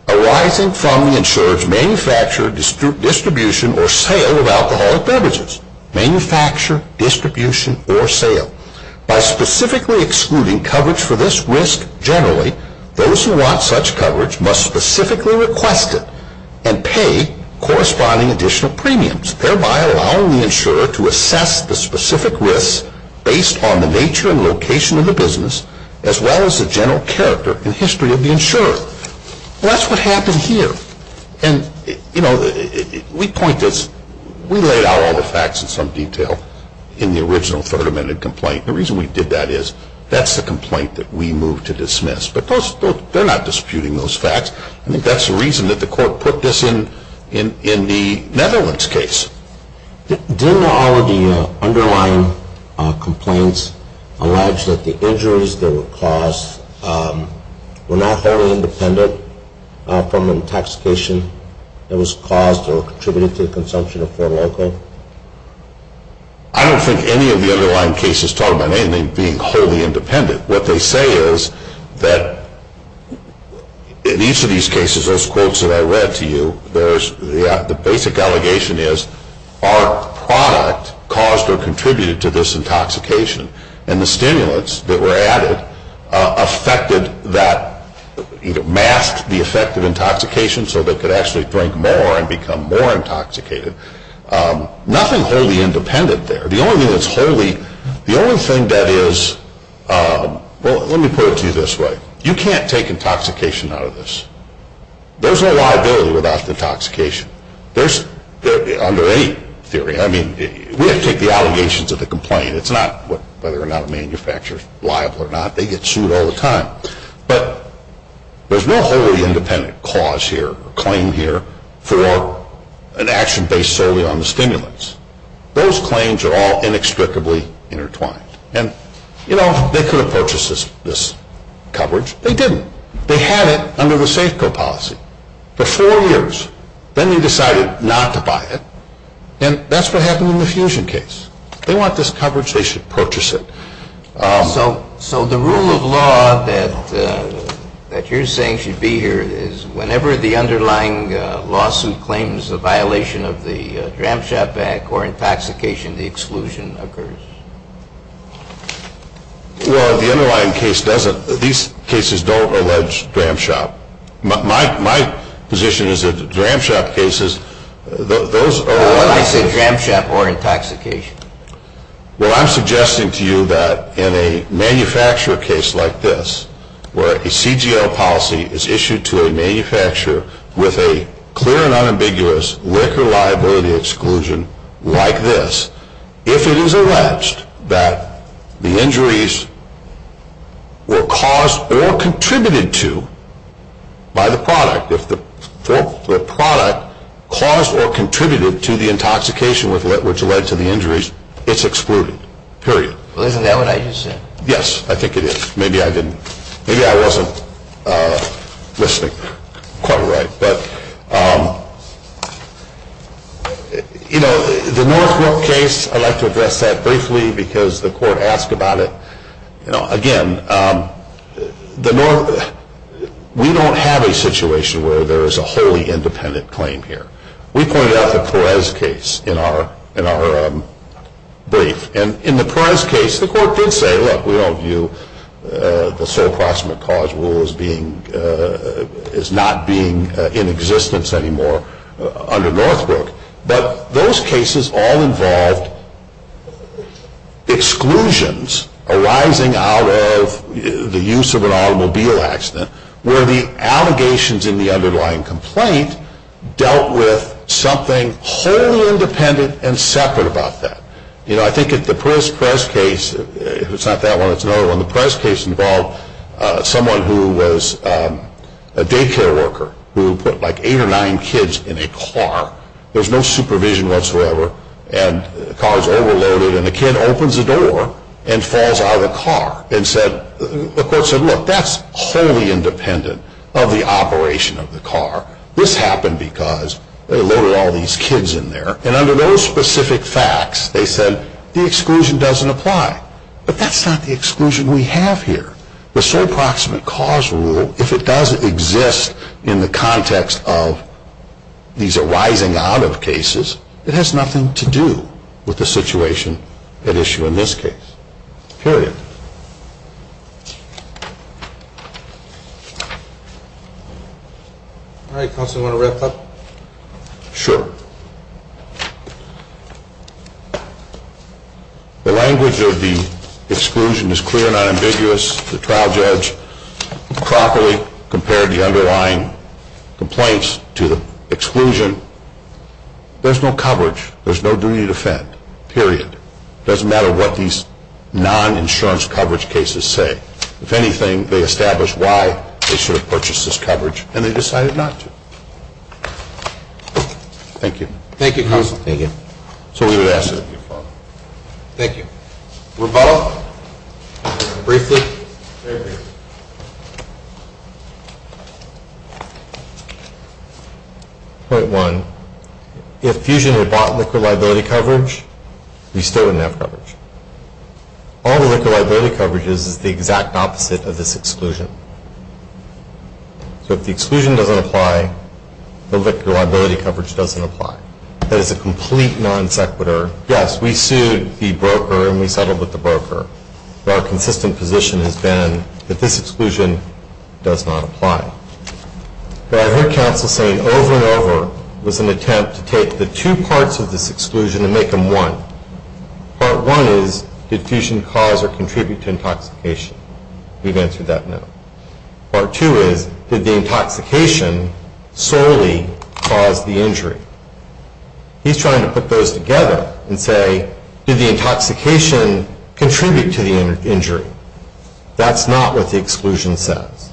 arising from the insurer's manufacture, distribution, or sale of alcoholic beverages. Manufacture, distribution, or sale. By specifically excluding coverage for this risk generally, those who want such coverage must specifically request it and pay corresponding additional premiums, thereby allowing the insurer to assess the specific risks based on the nature and location of the business as well as the general character and history of the insurer. Well, that's what happened here. And, you know, we point this. We laid out all the facts in some detail in the original Third Amendment complaint. The reason we did that is that's the complaint that we moved to dismiss. But they're not disputing those facts. I think that's the reason that the court put this in the Netherlands case. Didn't all of the underlying complaints allege that the injuries that were caused were not wholly independent from the intoxication that was caused or contributed to the consumption of Fort Loco? I don't think any of the underlying cases talk about anything being wholly independent. What they say is that in each of these cases, those quotes that I read to you, the basic allegation is our product caused or contributed to this intoxication. And the stimulants that were added affected that, masked the effect of intoxication so they could actually drink more and become more intoxicated. Nothing wholly independent there. The only thing that's wholly, the only thing that is, well, let me put it to you this way. You can't take intoxication out of this. There's no liability without the intoxication. There's, under any theory, I mean, we have to take the allegations of the complaint. It's not whether or not a manufacturer is liable or not. They get sued all the time. But there's no wholly independent cause here or claim here for an action based solely on the stimulants. Those claims are all inextricably intertwined. And, you know, they could have purchased this coverage. They didn't. They had it under the Safeco policy for four years. Then they decided not to buy it. And that's what happened in the Fusion case. They want this coverage. They should purchase it. So the rule of law that you're saying should be here is whenever the underlying lawsuit claims a violation of the Dram Shop Act or intoxication, the exclusion occurs. Well, the underlying case doesn't. These cases don't allege Dram Shop. My position is that Dram Shop cases, those are... I said Dram Shop or intoxication. Well, I'm suggesting to you that in a manufacturer case like this where a CGL policy is issued to a manufacturer with a clear and unambiguous liquor liability exclusion like this, if it is alleged that the injuries were caused or contributed to by the product, if the product caused or contributed to the intoxication which led to the injuries, it's excluded, period. Well, isn't that what I just said? Yes, I think it is. Maybe I didn't. Maybe I wasn't listening quite right. But the Northbrook case, I'd like to address that briefly because the court asked about it. Again, we don't have a situation where there is a wholly independent claim here. We pointed out the Perez case in our brief. And in the Perez case, the court did say, look, we don't view the sole proximate cause rule as not being in existence anymore under Northbrook. But those cases all involved exclusions arising out of the use of an automobile accident where the allegations in the underlying complaint dealt with something wholly independent and separate about that. You know, I think the Perez case, if it's not that one, it's another one, the Perez case involved someone who was a daycare worker who put like eight or nine kids in a car. There's no supervision whatsoever. And the car is overloaded. And the kid opens the door and falls out of the car. And the court said, look, that's wholly independent of the operation of the car. This happened because they loaded all these kids in there. And under those specific facts, they said the exclusion doesn't apply. But that's not the exclusion we have here. The sole proximate cause rule, if it does exist in the context of these arising out of cases, it has nothing to do with the situation at issue in this case, period. All right, counsel, you want to wrap up? Sure. The language of the exclusion is clear and unambiguous. The trial judge properly compared the underlying complaints to the exclusion. There's no coverage. There's no duty to defend, period. It doesn't matter what these non-insurance coverage cases say. If anything, they establish why they should have purchased this coverage, and they decided not to. Thank you. Thank you, counsel. Thank you. So we would ask that you follow. Thank you. Rebuttal? Briefly? Very briefly. Point one, if Fusion had bought liquid liability coverage, we still wouldn't have coverage. All the liquid liability coverage is the exact opposite of this exclusion. So if the exclusion doesn't apply, the liquid liability coverage doesn't apply. That is a complete non sequitur. Yes, we sued the broker, and we settled with the broker. Our consistent position has been that this exclusion does not apply. What I heard counsel saying over and over was an attempt to take the two parts of this exclusion and make them one. Part one is, did Fusion cause or contribute to intoxication? We've answered that no. Part two is, did the intoxication solely cause the injury? He's trying to put those together and say, did the intoxication contribute to the injury? That's not what the exclusion says.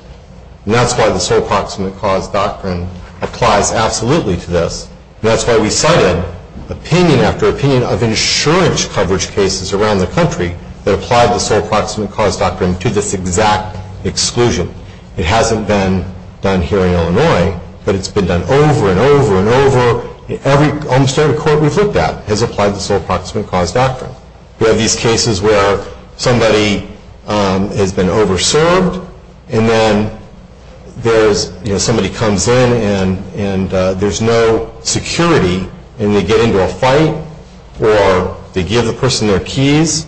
And that's why the Sole Approximate Cause Doctrine applies absolutely to this, and that's why we cited opinion after opinion of insurance coverage cases around the country that applied the Sole Approximate Cause Doctrine to this exact exclusion. It hasn't been done here in Illinois, but it's been done over and over and over. Almost every court we've looked at has applied the Sole Approximate Cause Doctrine. We have these cases where somebody has been over-served, and then somebody comes in and there's no security, and they get into a fight, or they give the person their keys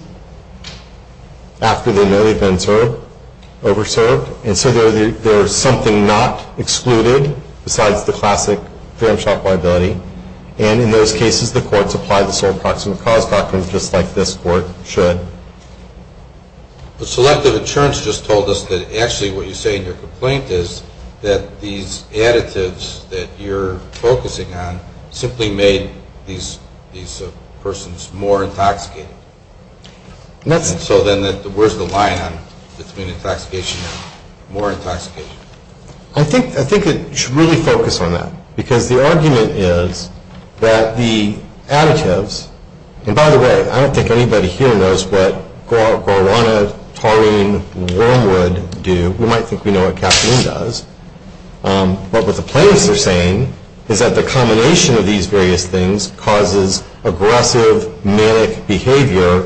after they know they've been over-served, and so there's something not excluded besides the classic fair and sharp liability. And in those cases, the courts apply the Sole Approximate Cause Doctrine just like this court should. The selective insurance just told us that actually what you say in your complaint is that these additives that you're focusing on simply made these persons more intoxicated. So then where's the line between intoxication and more intoxication? I think you should really focus on that, because the argument is that the additives, and by the way, I don't think anybody here knows what Guarana, Taurine, and Wormwood do. We might think we know what Caffeine does. But what the plaintiffs are saying is that the combination of these various things causes aggressive manic behavior,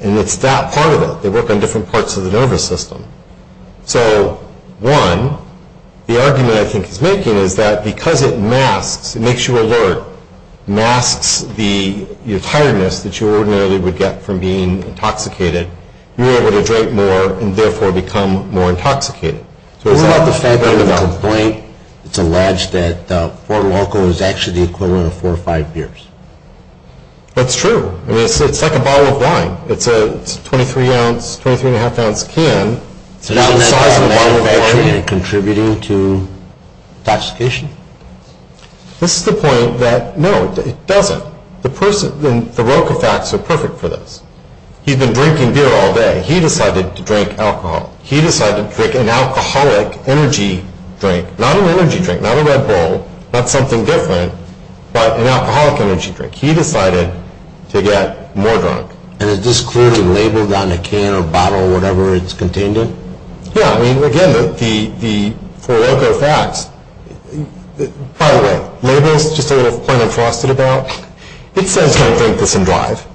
and it's that part of it. They work on different parts of the nervous system. So one, the argument I think he's making is that because it masks, it makes you alert, masks the tiredness that you ordinarily would get from being intoxicated, you're able to drink more and therefore become more intoxicated. What about the fact that in the complaint it's alleged that four local is actually the equivalent of four or five beers? That's true. I mean, it's like a bottle of wine. It's a 23-ounce, 23-and-a-half-ounce can. Is the size of a bottle of wine contributing to intoxication? This is the point that, no, it doesn't. The person, the Roquefacts are perfect for this. He's been drinking beer all day. He decided to drink alcohol. He decided to drink an alcoholic energy drink, not an energy drink, not a Red Bull, not something different, but an alcoholic energy drink. He decided to get more drunk. And is this clearly labeled on a can or bottle or whatever it's contained in? Yeah. I mean, again, for Roquefacts, by the way, labels, just a little point I'm frosted about, it says come drink this and drive.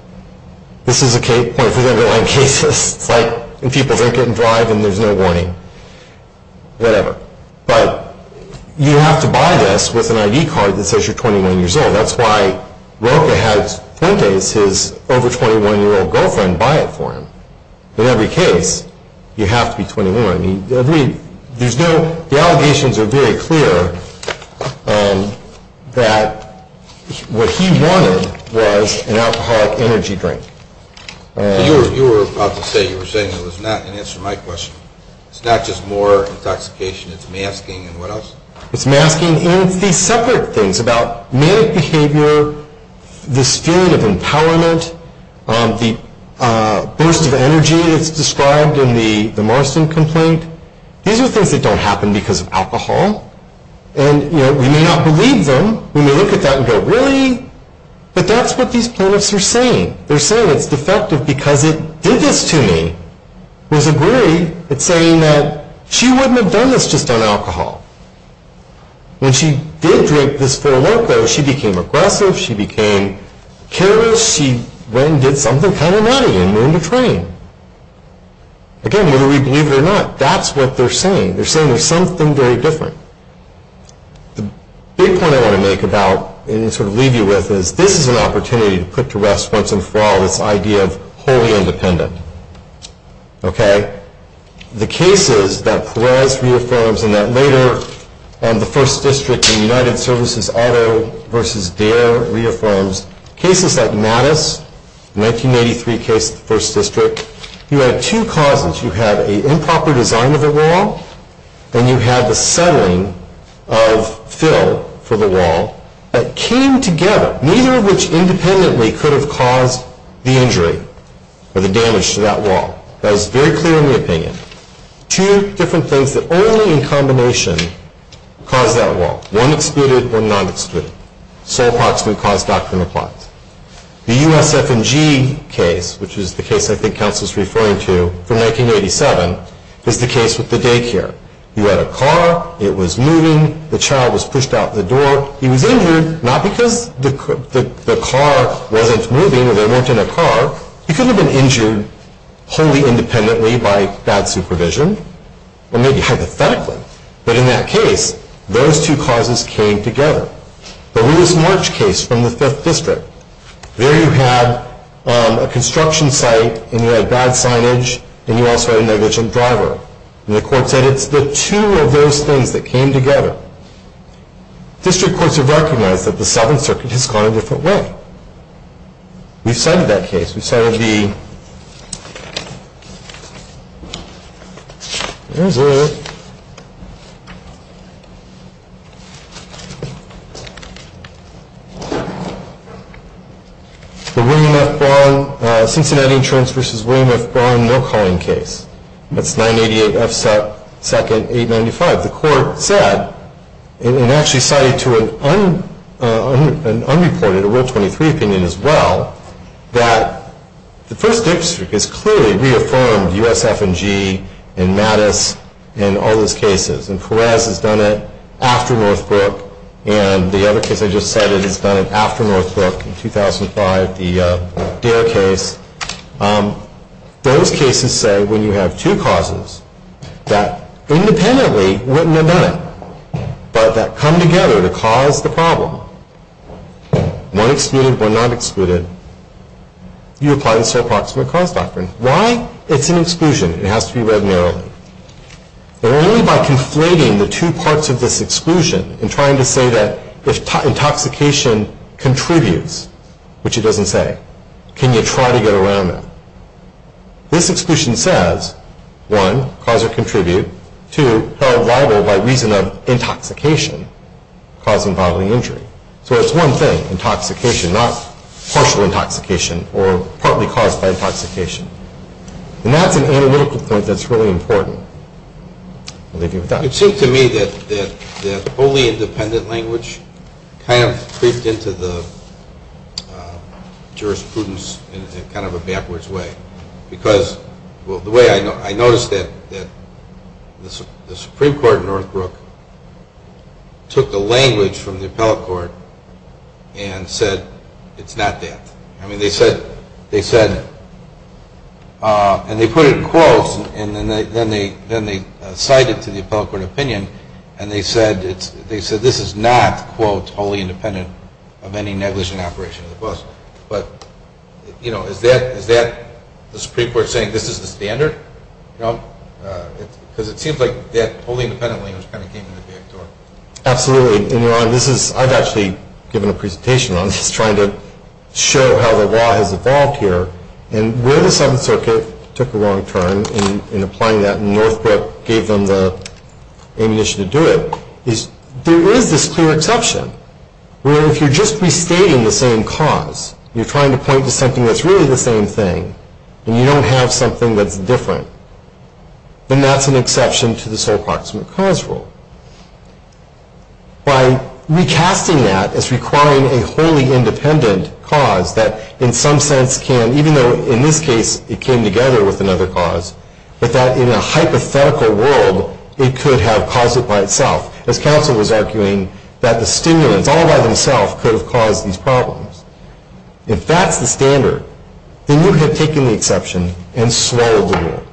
This is a point for the underlying cases. It's like when people drink it and drive and there's no warning. Whatever. But you have to buy this with an ID card that says you're 21 years old. That's why Roque had, some days, his over-21-year-old girlfriend buy it for him. In every case, you have to be 21. The allegations are very clear that what he wanted was an alcoholic energy drink. You were about to say, you were saying it was not, in answer to my question, it's not just more intoxication, it's masking and what else? It's masking and it's these separate things about manic behavior, this feeling of empowerment, the burst of energy that's described in the Marston complaint. These are things that don't happen because of alcohol. And, you know, we may not believe them. We may look at that and go, really? But that's what these plaintiffs are saying. They're saying it's defective because it did this to me. Rosaberry is saying that she wouldn't have done this just on alcohol. When she did drink this full loco, she became aggressive. She became careless. She went and did something kind of nutty and learned to train. Again, whether we believe it or not, that's what they're saying. They're saying there's something very different. The big point I want to make about, and sort of leave you with, is this is an opportunity to put to rest once and for all this idea of wholly independent. Okay? The cases that Perez reaffirms and that later on the First District in United Services' Otto v. Dare reaffirms, cases like Mattis, the 1983 case of the First District, you had two causes. You had an improper design of the wall, and you had the settling of Phil for the wall that came together, neither of which independently could have caused the injury or the damage to that wall. That is very clear in the opinion. Two different things that only in combination caused that wall, one excluded, one not excluded. So approximately caused doctrine applies. The USF&G case, which is the case I think counsel is referring to, from 1987, is the case with the daycare. You had a car. It was moving. The child was pushed out the door. He was injured, not because the car wasn't moving or they weren't in a car, he could have been injured wholly independently by bad supervision, or maybe hypothetically. But in that case, those two causes came together. The Lewis March case from the Fifth District, there you had a construction site, and you had bad signage, and you also had a negligent driver. And the court said it's the two of those things that came together. District courts have recognized that the Seventh Circuit has gone a different way. We've cited that case. We've cited the William F. Brown, Cincinnati Insurance v. William F. Brown, no-calling case. That's 988 F. Second, 895. The court said, and actually cited to an unreported, a Rule 23 opinion as well, that the First District has clearly reaffirmed USF&G and Mattis and all those cases. And Perez has done it after Northbrook. And the other case I just cited has done it after Northbrook in 2005, the DARE case. Those cases say when you have two causes that independently wouldn't have done it, but that come together to cause the problem, one excluded, one not excluded, you apply the sole proximate cause doctrine. Why? It's an exclusion. It has to be read narrowly. And only by conflating the two parts of this exclusion and trying to say that if intoxication contributes, which it doesn't say, can you try to get around that. This exclusion says, one, cause or contribute, two, held liable by reason of intoxication, causing bodily injury. So it's one thing, intoxication, not partial intoxication or partly caused by intoxication. And that's an analytical point that's really important. I'll leave you with that. It seemed to me that wholly independent language kind of creeped into the jurisprudence in kind of a backwards way. Because the way I noticed that the Supreme Court in Northbrook took the language from the appellate court and said it's not that. I mean, they said, and they put it in quotes and then they cited to the appellate court opinion and they said this is not, quote, wholly independent of any negligent operation of the bus. But, you know, is that the Supreme Court saying this is the standard? Because it seems like that wholly independent language kind of came in the back door. Absolutely. I've actually given a presentation on this trying to show how the law has evolved here. And where the Seventh Circuit took a wrong turn in applying that and Northbrook gave them the ammunition to do it, is there is this clear exception where if you're just restating the same cause, you're trying to point to something that's really the same thing and you don't have something that's different, then that's an exception to the sole proximate cause rule. By recasting that as requiring a wholly independent cause that in some sense can, even though in this case it came together with another cause, but that in a hypothetical world it could have caused it by itself, as counsel was arguing that the stimulants all by themselves could have caused these problems. If that's the standard, then you have taken the exception and swallowed the rule.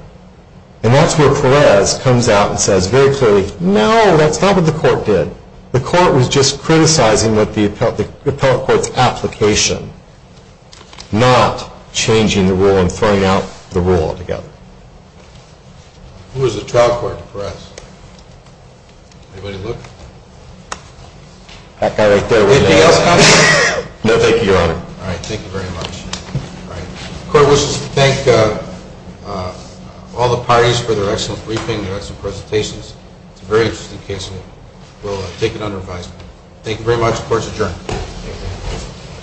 And that's where Perez comes out and says very clearly, no, that's not what the court did. The court was just criticizing the appellate court's application, not changing the rule and throwing out the rule altogether. Who was the trial court, Perez? Anybody look? That guy right there. Anything else, counsel? No, thank you, Your Honor. All right, thank you very much. The court wishes to thank all the parties for their excellent briefing, their excellent presentations. It's a very interesting case and we'll take it under advisement. Thank you very much. The court is adjourned.